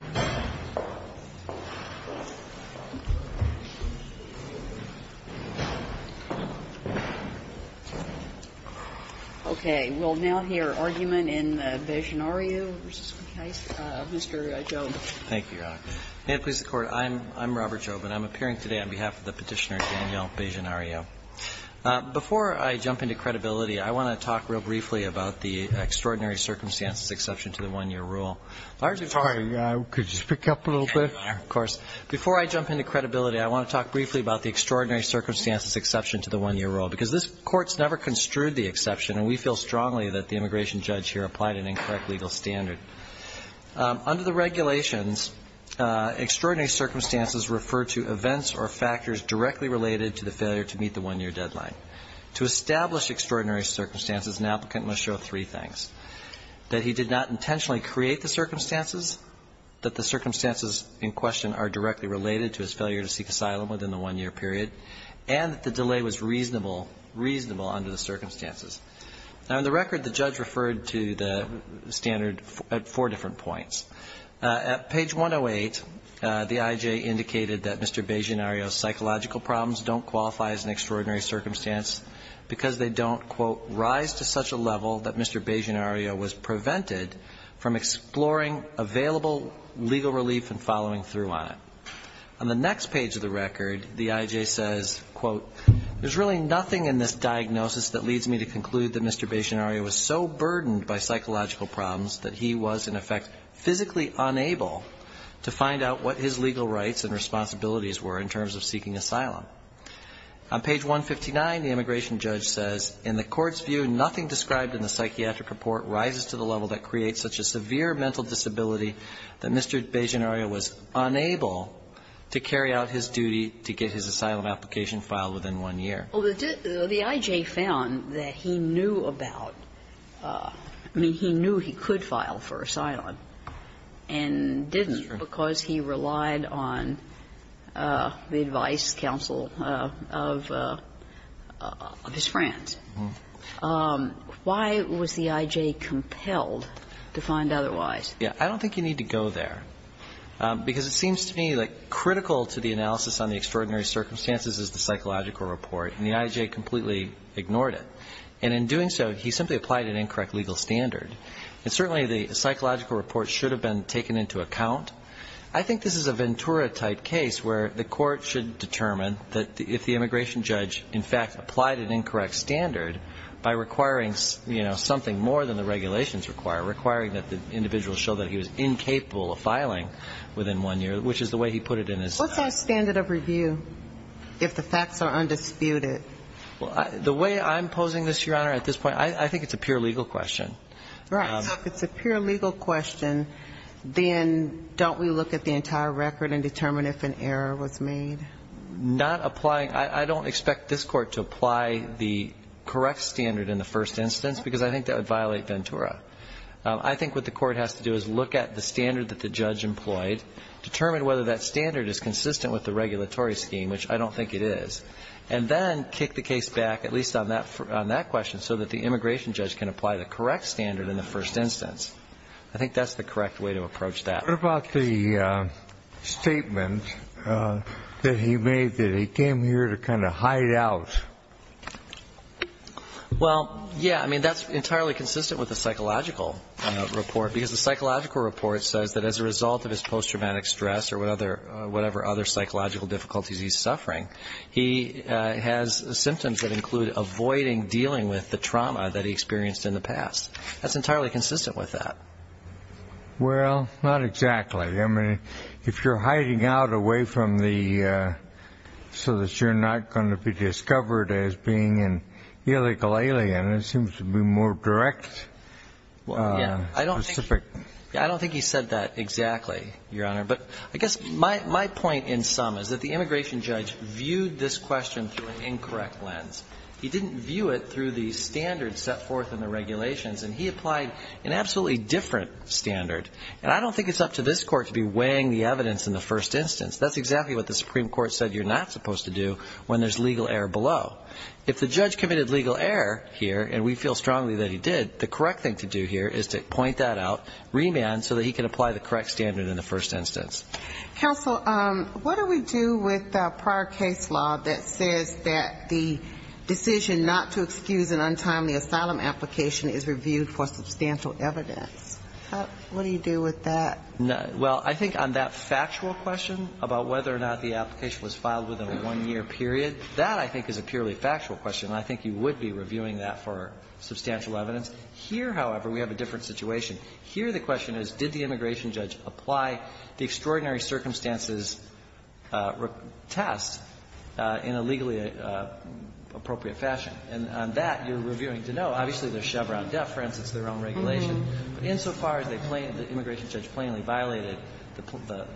v. Mukasey, Mr. Job. Thank you, Your Honor. May it please the Court, I'm Robert Job, and I'm appearing today on behalf of the petitioner Daniel Benjenariu. Before I jump into credibility, I want to talk real briefly about the extraordinary circumstances exception to the one-year rule. Because this Court's never construed the exception, and we feel strongly that the immigration judge here applied an incorrect legal standard. Under the regulations, extraordinary circumstances refer to events or factors directly related to the failure to meet the one-year deadline. To establish extraordinary circumstances, an applicant must show three things. that the circumstances in question are directly related to his failure to seek asylum within the one-year period, and that the delay was reasonable, reasonable under the circumstances. Now, in the record, the judge referred to the standard at four different points. At page 108, the IJ indicated that Mr. Benjenariu's psychological problems don't qualify as an extraordinary circumstance because they don't, quote, rise to such a level that Mr. Benjenariu was prevented from exploring available legal relief and following through on it. On the next page of the record, the IJ says, quote, there's really nothing in this diagnosis that leads me to conclude that Mr. Benjenariu was so burdened by psychological problems that he was, in effect, physically unable to find out what his legal rights and responsibilities were in terms of seeking asylum. On page 159, the immigration judge says, in the court's view, nothing described in the psychiatric report rises to the level that creates such a severe mental disability that Mr. Benjenariu was unable to carry out his duty to get his asylum application filed within one year. Well, the IJ found that he knew about, I mean, he knew he could file for asylum and didn't because he relied on the advice, counsel of his friends. Why was the IJ compelled to find otherwise? Yeah. I don't think you need to go there, because it seems to me, like, critical to the analysis on the extraordinary circumstances is the psychological report, and the IJ completely ignored it. And in doing so, he simply applied an incorrect legal standard. And certainly the psychological report should have been taken into account. I think this is a Ventura-type case where the court should determine that if the immigration judge, in fact, applied an incorrect standard by requiring, you know, something more than the regulations require, requiring that the individual show that he was incapable of filing within one year, which is the way he put it in his. What's our standard of review if the facts are undisputed? Well, the way I'm posing this, Your Honor, at this point, I think it's a pure legal question. Right. So if it's a pure legal question, then don't we look at the entire record and determine if an error was made? Not applying. I don't expect this court to apply the correct standard in the first instance, because I think that would violate Ventura. I think what the court has to do is look at the standard that the judge employed, determine whether that standard is consistent with the regulatory scheme, which I don't think it is, and then kick the case back, at least on that question, so that the immigration judge can apply the correct standard in the first instance. I think that's the correct way to approach that. What about the statement that he made that he came here to kind of hide out? Well, yeah. I mean, that's entirely consistent with the psychological report, because the psychological report says that as a result of his post-traumatic stress or whatever other psychological difficulties he's suffering, he has symptoms that include avoiding dealing with the trauma that he experienced in the past. That's entirely consistent with that. Well, not exactly. I mean, if you're hiding out away from the so that you're not going to be discovered as being an illegal alien, it seems to be more direct. Well, yeah. I don't think he said that exactly, Your Honor. But I guess my point in sum is that the immigration judge viewed this question through an incorrect lens. He didn't view it through the standards set forth in the regulations, and he applied an absolutely different standard. And I don't think it's up to this Court to be weighing the evidence in the first instance. That's exactly what the Supreme Court said you're not supposed to do when there's legal error below. If the judge committed legal error here, and we feel strongly that he did, the correct thing to do here is to point that out, remand, so that he can apply the correct standard in the first instance. Counsel, what do we do with the prior case law that says that the decision not to excuse an untimely asylum application is reviewed for substantial evidence? What do you do with that? Well, I think on that factual question about whether or not the application was filed within a one-year period, that I think is a purely factual question, and I think you would be reviewing that for substantial evidence. Here, however, we have a different situation. Here, the question is, did the immigration judge apply the extraordinary circumstances test in a legally appropriate fashion? And on that, you're reviewing to know. Obviously, there's Chevron deference. It's their own regulation. But insofar as they plainly, the immigration judge plainly violated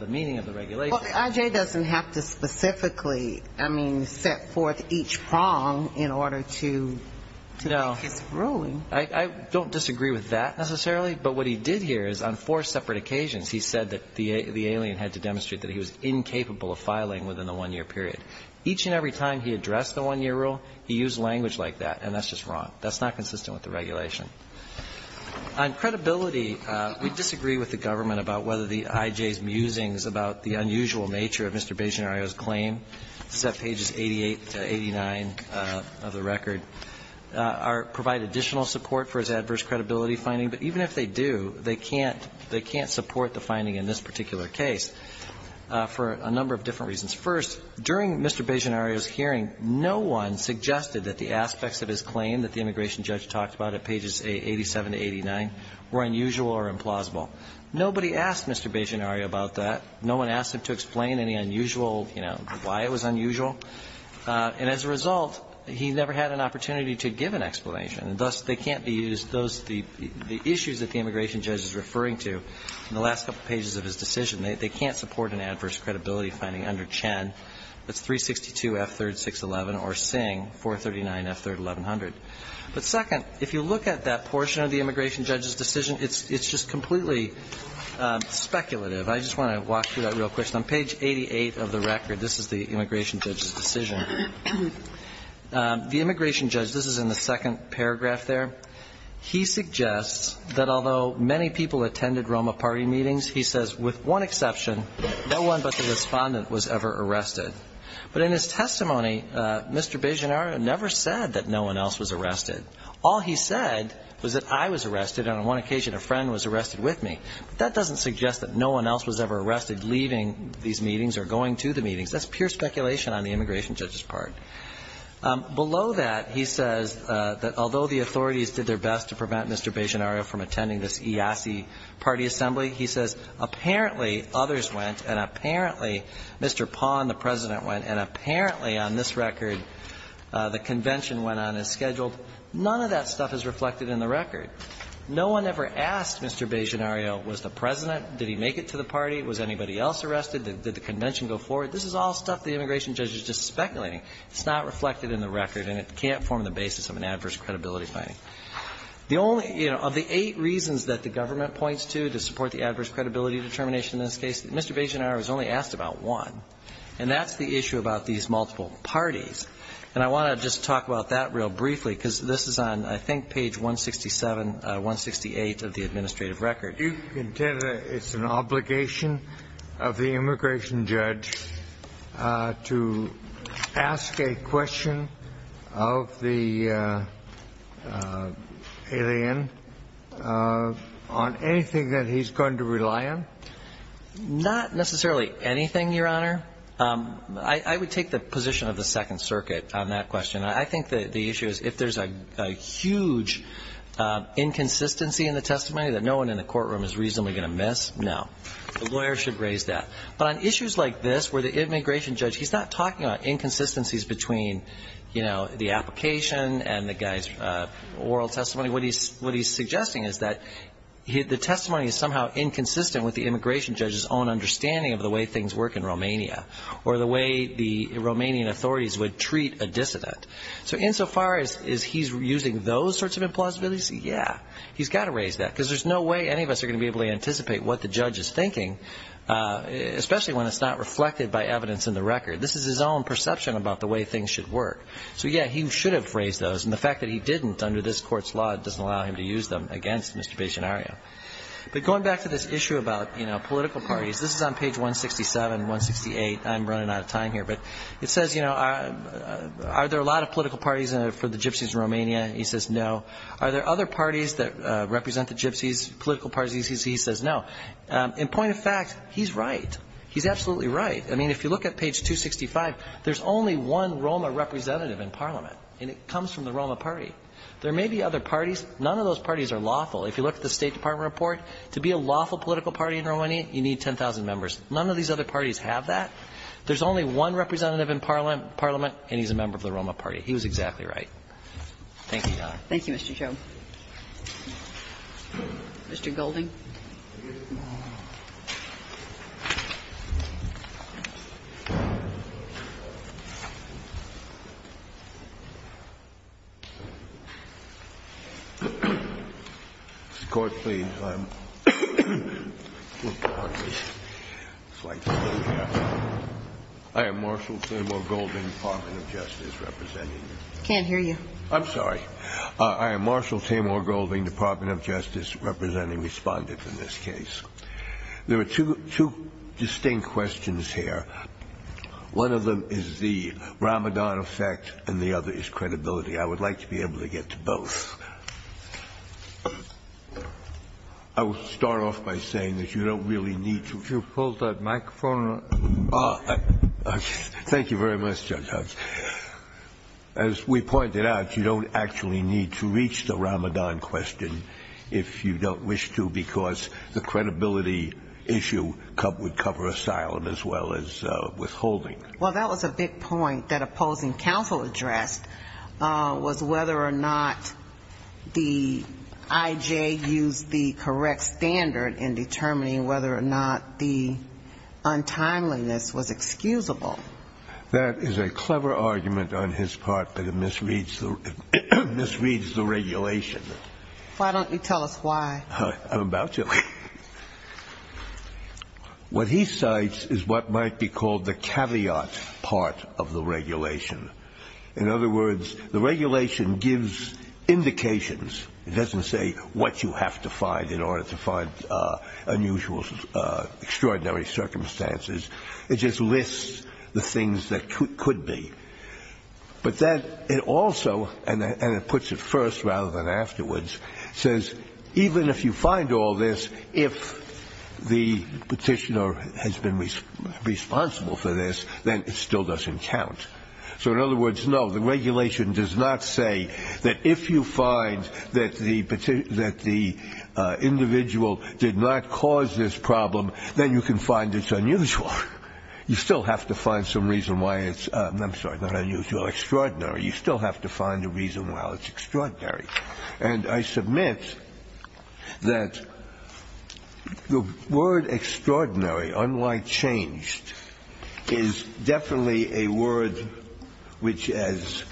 the meaning of the regulation. Well, I.J. doesn't have to specifically, I mean, set forth each prong in order to make his ruling. I don't disagree with that necessarily, but what he did here is on four separate occasions he said that the alien had to demonstrate that he was incapable of filing within the one-year period. Each and every time he addressed the one-year rule, he used language like that, and that's just wrong. That's not consistent with the regulation. On credibility, we disagree with the government about whether the I.J.'s musings about the unusual nature of Mr. Baggianario's claim, set pages 88 to 89 of the record, provide additional support for his adverse credibility finding. But even if they do, they can't support the finding in this particular case for a number of different reasons. First, during Mr. Baggianario's hearing, no one suggested that the aspects of his claim that the immigration judge talked about at pages 87 to 89 were unusual or implausible. Nobody asked Mr. Baggianario about that. No one asked him to explain any unusual, you know, why it was unusual. And as a result, he never had an opportunity to give an explanation. And thus, they can't be used. Those issues that the immigration judge is referring to in the last couple pages of his decision, they can't support an adverse credibility finding under Chen. That's 362F3-611 or Singh, 439F3-1100. But second, if you look at that portion of the immigration judge's decision, it's just completely speculative. I just want to walk through that real quick. On page 88 of the record, this is the immigration judge's decision. The immigration judge, this is in the second paragraph there. He suggests that although many people attended ROMA party meetings, he says, with one exception, no one but the respondent was ever arrested. But in his testimony, Mr. Baggianario never said that no one else was arrested. All he said was that I was arrested and on one occasion a friend was arrested with me. But that doesn't suggest that no one else was ever arrested leaving these meetings or going to the meetings. That's pure speculation on the immigration judge's part. Below that, he says that although the authorities did their best to prevent Mr. Baggianario from attending this IASI party assembly, he says apparently others went and apparently Mr. Pahn, the President, went and apparently on this record the convention went on as scheduled. None of that stuff is reflected in the record. No one ever asked Mr. Baggianario was the President, did he make it to the party, was anybody else arrested, did the convention go forward. This is all stuff the immigration judge is just speculating. It's not reflected in the record and it can't form the basis of an adverse credibility finding. The only, you know, of the eight reasons that the government points to to support the adverse credibility determination in this case, Mr. Baggianario has only asked about one. And that's the issue about these multiple parties. And I want to just talk about that real briefly because this is on, I think, page 167, 168 of the administrative record. Do you consider it's an obligation of the immigration judge to ask a question of the alien on anything that he's going to rely on? Not necessarily anything, Your Honor. I would take the position of the Second Circuit on that question. I think the issue is if there's a huge inconsistency in the testimony that no one in the courtroom is reasonably going to miss, no. The lawyer should raise that. But on issues like this where the immigration judge, he's not talking about inconsistencies between, you know, the application and the guy's oral testimony. What he's suggesting is that the testimony is somehow inconsistent with the immigration judge's own understanding of the way things work in Romania or the way the Romanian authorities would treat a dissident. So insofar as he's using those sorts of implausibilities, yeah, he's got to raise that. Because there's no way any of us are going to be able to anticipate what the judge is thinking, especially when it's not reflected by evidence in the record. This is his own perception about the way things should work. So, yeah, he should have raised those. And the fact that he didn't under this court's law doesn't allow him to use them against Mr. Baggianario. But going back to this issue about, you know, political parties, this is on page 167 and 168. I'm running out of time here. But it says, you know, are there a lot of political parties for the gypsies in Romania? He says no. Are there other parties that represent the gypsies, political parties? He says no. In point of fact, he's right. He's absolutely right. I mean, if you look at page 265, there's only one Roma representative in parliament. And it comes from the Roma party. There may be other parties. None of those parties are lawful. If you look at the State Department report, to be a lawful political party in Romania, you need 10,000 members. None of these other parties have that. There's only one representative in parliament, and he's a member of the Roma party. Thank you, Your Honor. Thank you, Mr. Chauve. Mr. Golding. Mr. Court, please. I am Marshal Samuel Golding, Department of Justice, representing you. I can't hear you. I'm sorry. I am Marshal Tamar Golding, Department of Justice, representing respondents in this case. There are two distinct questions here. One of them is the Ramadan effect, and the other is credibility. I would like to be able to get to both. I will start off by saying that you don't really need to. Could you hold that microphone? Thank you very much, Judge Huggs. As we pointed out, you don't actually need to reach the Ramadan question if you don't wish to, because the credibility issue would cover asylum as well as withholding. Well, that was a big point that opposing counsel addressed, was whether or not the IJ used the correct standard in determining whether or not the untimeliness was excusable. That is a clever argument on his part, but it misreads the regulation. Why don't you tell us why? I'm about to. What he cites is what might be called the caveat part of the regulation. In other words, the regulation gives indications. It doesn't say what you have to find in order to find unusual, extraordinary circumstances. It just lists the things that could be. But then it also, and it puts it first rather than afterwards, says even if you find all this, if the petitioner has been responsible for this, then it still doesn't count. So in other words, no, the regulation does not say that if you find that the individual did not cause this problem, then you can find it's unusual. You still have to find some reason why it's, I'm sorry, not unusual, extraordinary. You still have to find a reason why it's extraordinary. And I submit that the word extraordinary, unlike changed, is definitely a word which is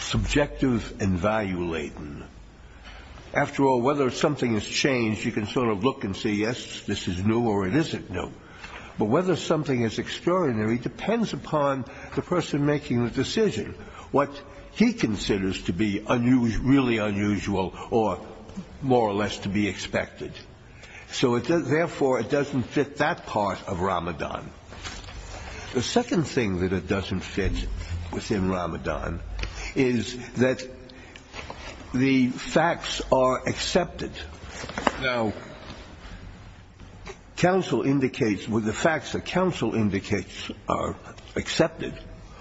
subjective and value-laden. After all, whether something is changed, you can sort of look and say, yes, this is new or it isn't new. But whether something is extraordinary depends upon the person making the decision, what he considers to be really unusual or more or less to be expected. So therefore, it doesn't fit that part of Ramadan. The second thing that it doesn't fit within Ramadan is that the facts are accepted. Now, counsel indicates with the facts that counsel indicates are accepted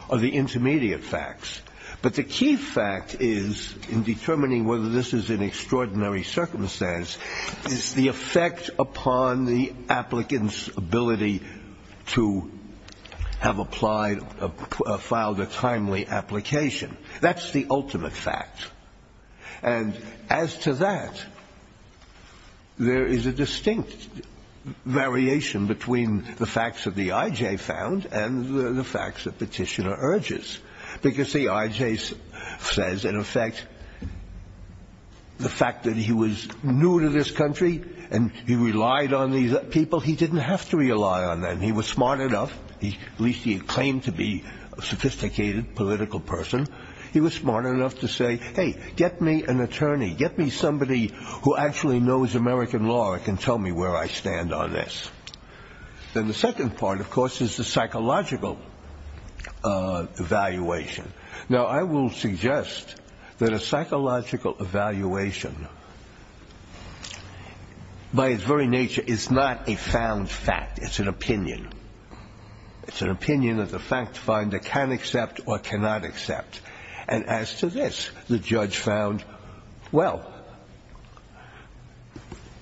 are the intermediate facts. But the key fact is in determining whether this is an extraordinary circumstance is the effect upon the applicant's ability to have applied, filed a timely application. That's the ultimate fact. And as to that, there is a distinct variation between the facts that the I.J. found and the facts that Petitioner urges. Because, see, I.J. says, in effect, the fact that he was new to this country and he relied on these people, he didn't have to rely on them. He was smart enough. At least he claimed to be a sophisticated political person. He was smart enough to say, hey, get me an attorney. Get me somebody who actually knows American law and can tell me where I stand on this. Then the second part, of course, is the psychological evaluation. Now, I will suggest that a psychological evaluation, by its very nature, is not a found fact. It's an opinion. It's an opinion that the fact finder can accept or cannot accept. And as to this, the judge found, well,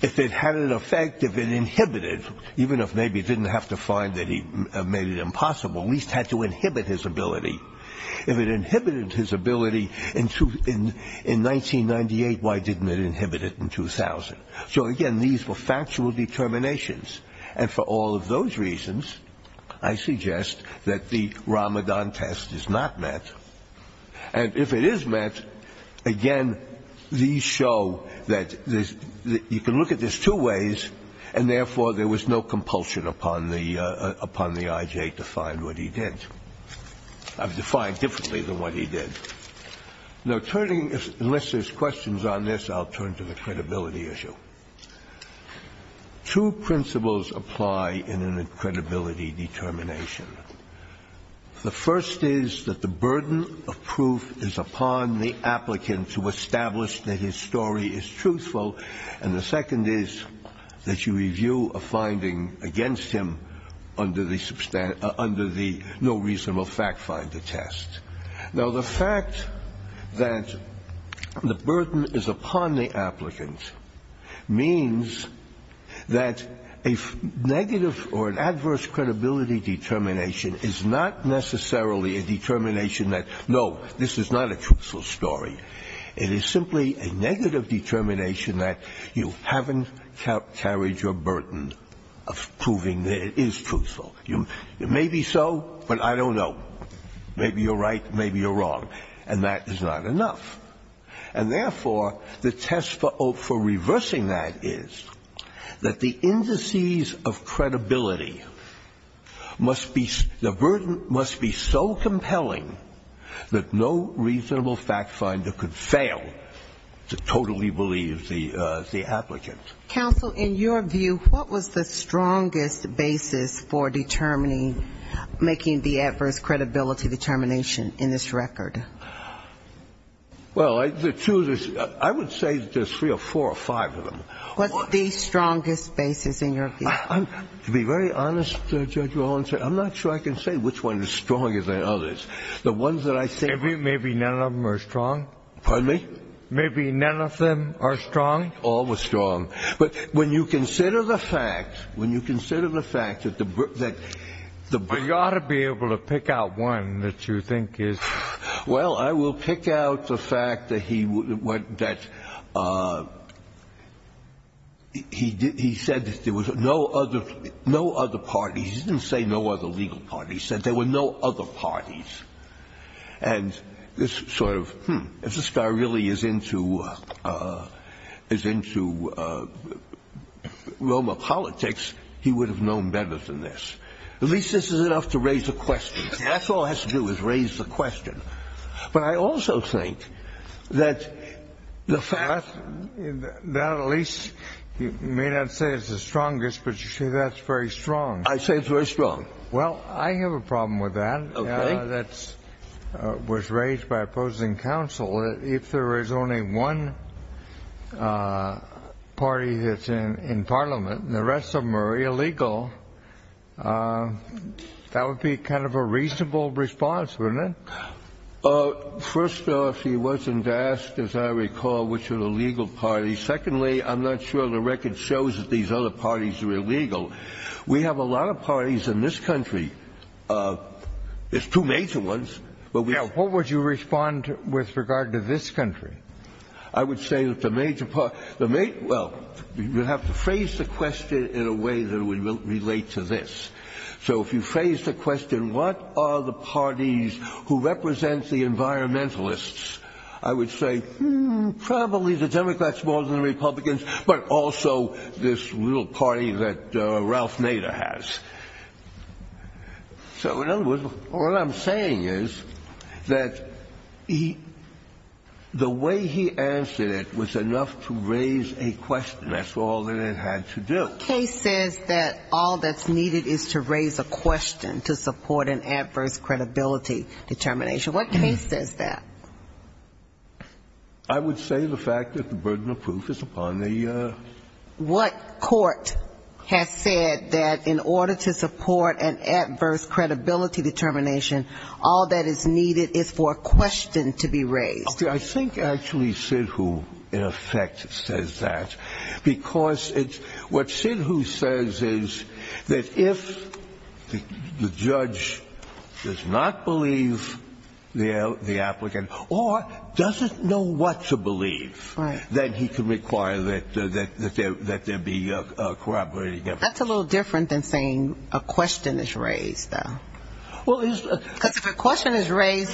if it had an effect, if it inhibited, even if maybe he didn't have to find that he made it impossible, at least had to inhibit his ability. If it inhibited his ability in 1998, why didn't it inhibit it in 2000? So, again, these were factual determinations. And for all of those reasons, I suggest that the Ramadan test is not met. And if it is met, again, these show that you can look at this two ways, and therefore there was no compulsion upon the I.J. to find what he did. I've defined differently than what he did. Now, turning, unless there's questions on this, I'll turn to the credibility issue. Two principles apply in a credibility determination. The first is that the burden of proof is upon the applicant to establish that his story is truthful, and the second is that you review a finding against him under the no reasonable fact finder test. Now, the fact that the burden is upon the applicant means that a negative or an adverse credibility determination is not necessarily a determination that, no, this is not a truthful story. It is simply a negative determination that you haven't carried your burden of proving that it is truthful. Maybe so, but I don't know. Maybe you're right, maybe you're wrong. And that is not enough. And therefore, the test for reversing that is that the indices of credibility must be, the burden must be so compelling that no reasonable fact finder could fail to totally believe the applicant. Counsel, in your view, what was the strongest basis for determining, making the adverse credibility determination in this record? Well, the two, I would say there's three or four or five of them. What's the strongest basis in your view? To be very honest, Judge Rollins, I'm not sure I can say which one is stronger than others. The ones that I see. Maybe none of them are strong. Pardon me? Maybe none of them are strong. All were strong. But when you consider the fact, when you consider the fact that the. You ought to be able to pick out one that you think is. Well, I will pick out the fact that he said that there was no other parties. He didn't say no other legal parties. He said there were no other parties. And this sort of if this guy really is into is into Roma politics, he would have known better than this. At least this is enough to raise a question. That's all has to do is raise the question. But I also think that the fact that at least you may not say it's the strongest, but you see, that's very strong. I say it's very strong. Well, I have a problem with that. That's was raised by opposing counsel. If there is only one party that's in Parliament and the rest of them are illegal, that would be kind of a reasonable response. First off, he wasn't asked, as I recall, which are the legal parties. Secondly, I'm not sure the record shows that these other parties are illegal. We have a lot of parties in this country. There's two major ones. What would you respond with regard to this country? I would say that the major part, well, you have to phrase the question in a way that would relate to this. So if you phrase the question, what are the parties who represent the environmentalists? I would say probably the Democrats more than the Republicans, but also this little party that Ralph Nader has. So in other words, what I'm saying is that the way he answered it was enough to raise a question. That's all that it had to do. The case says that all that's needed is to raise a question to support an adverse credibility determination. What case says that? I would say the fact that the burden of proof is upon the... What court has said that in order to support an adverse credibility determination, all that is needed is for a question to be raised? I think actually Sidhu, in effect, says that. What Sidhu says is that if the judge does not believe the applicant or doesn't know what to believe, then he can require that there be corroborating evidence. That's a little different than saying a question is raised, though. Because if a question is raised,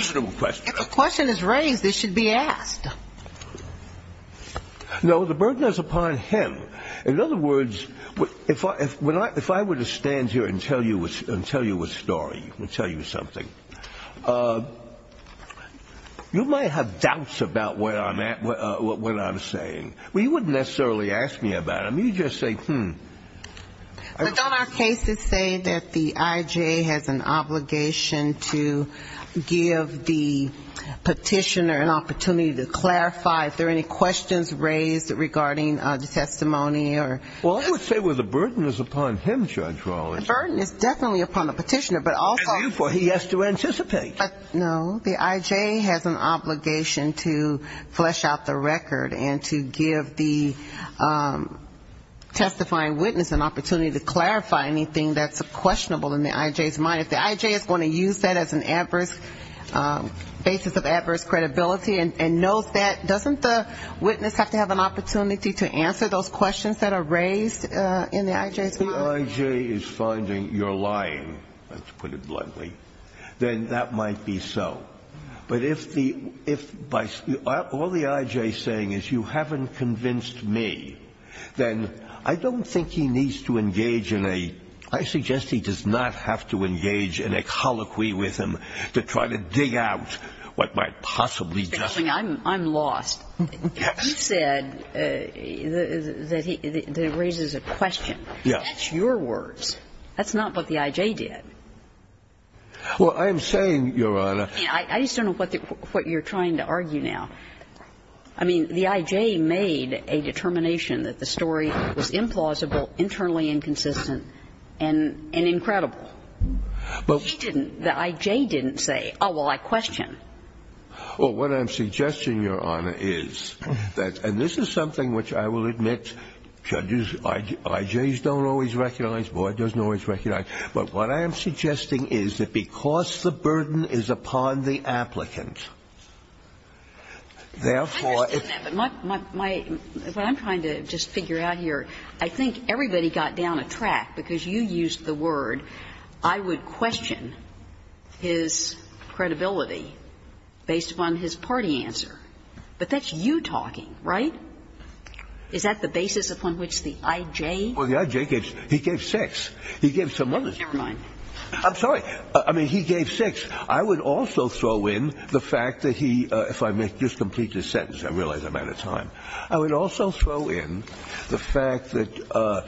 it should be asked. No, the burden is upon him. In other words, if I were to stand here and tell you a story, tell you something, you might have doubts about what I'm saying. Well, you wouldn't necessarily ask me about it. I mean, you just say, hmm. But don't our cases say that the IJ has an obligation to give the petitioner an opportunity to clarify if there are any questions raised regarding the testimony? Well, I would say, well, the burden is upon him, Judge Rawlings. The burden is definitely upon the petitioner, but also... And, therefore, he has to anticipate. No, the IJ has an obligation to flesh out the record and to give the testifying witness an opportunity to clarify anything that's questionable in the IJ's mind. If the IJ is going to use that as a basis of adverse credibility and knows that, doesn't the witness have to have an opportunity to answer those questions that are raised in the IJ's mind? If the IJ is finding you're lying, let's put it bluntly, then that might be so. But if all the IJ is saying is you haven't convinced me, then I don't think he needs to engage in a... I suggest he does not have to engage in a colloquy with him to try to dig out what might possibly justify... Justice Kagan, I'm lost. Yes. He said that he raises a question. Yes. That's your words. That's not what the IJ did. Well, I am saying, Your Honor... I just don't know what you're trying to argue now. I mean, the IJ made a determination that the story was implausible, internally inconsistent, and incredible. But... He didn't. The IJ didn't say, oh, well, I question. Well, what I'm suggesting, Your Honor, is that, and this is something which I will admit, judges, IJs don't always recognize, board doesn't always recognize. But what I am suggesting is that because the burden is upon the applicant, therefore... I understand that. But my – what I'm trying to just figure out here, I think everybody got down a track because you used the word, I would question his credibility based upon his party answer. But that's you talking, right? Is that the basis upon which the IJ... Well, the IJ gave – he gave six. He gave some other... Never mind. I'm sorry. I mean, he gave six. I would also throw in the fact that he – if I may just complete this sentence. I realize I'm out of time. I would also throw in the fact that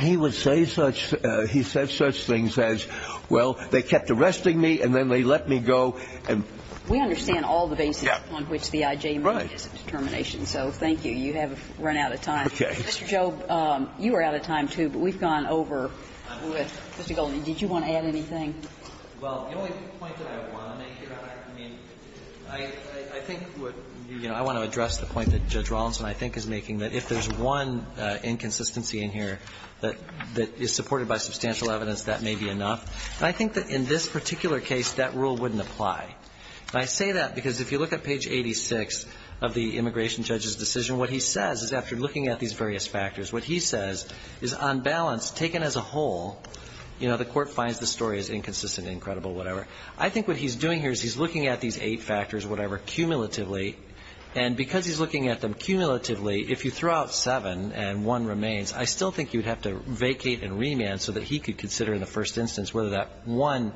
he would say such – he said such things as, well, they kept arresting me and then they let me go and... We understand all the basis upon which the IJ made this determination. Right. So thank you. You have run out of time. Okay. Mr. Jobe, you were out of time, too, but we've gone over. Mr. Goldstein, did you want to add anything? Well, the only point that I want to make here, I mean, I think what you – I want to address the point that Judge Rollins and I think is making, that if there's one inconsistency in here that is supported by substantial evidence, that may be enough. And I think that in this particular case, that rule wouldn't apply. And I say that because if you look at page 86 of the immigration judge's decision, what he says is after looking at these various factors, what he says is on balance taken as a whole, you know, the court finds the story is inconsistent, incredible, whatever. I think what he's doing here is he's looking at these eight factors, whatever, cumulatively, and because he's looking at them cumulatively, if you throw out seven and one remains, I still think you would have to vacate and remand so that he could consider in the first instance whether that one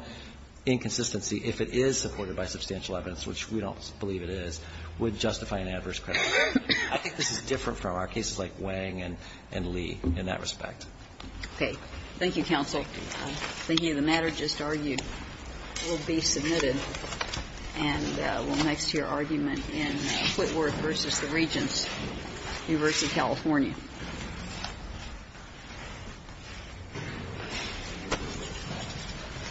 inconsistency, if it is supported by substantial evidence, which we don't believe it is, would justify an adverse credit. I think this is different from our cases like Wang and Lee in that respect. Okay. Thank you, counsel. Thank you. The matter just argued will be submitted and will next hear argument in Whitworth v. The Regents, University of California.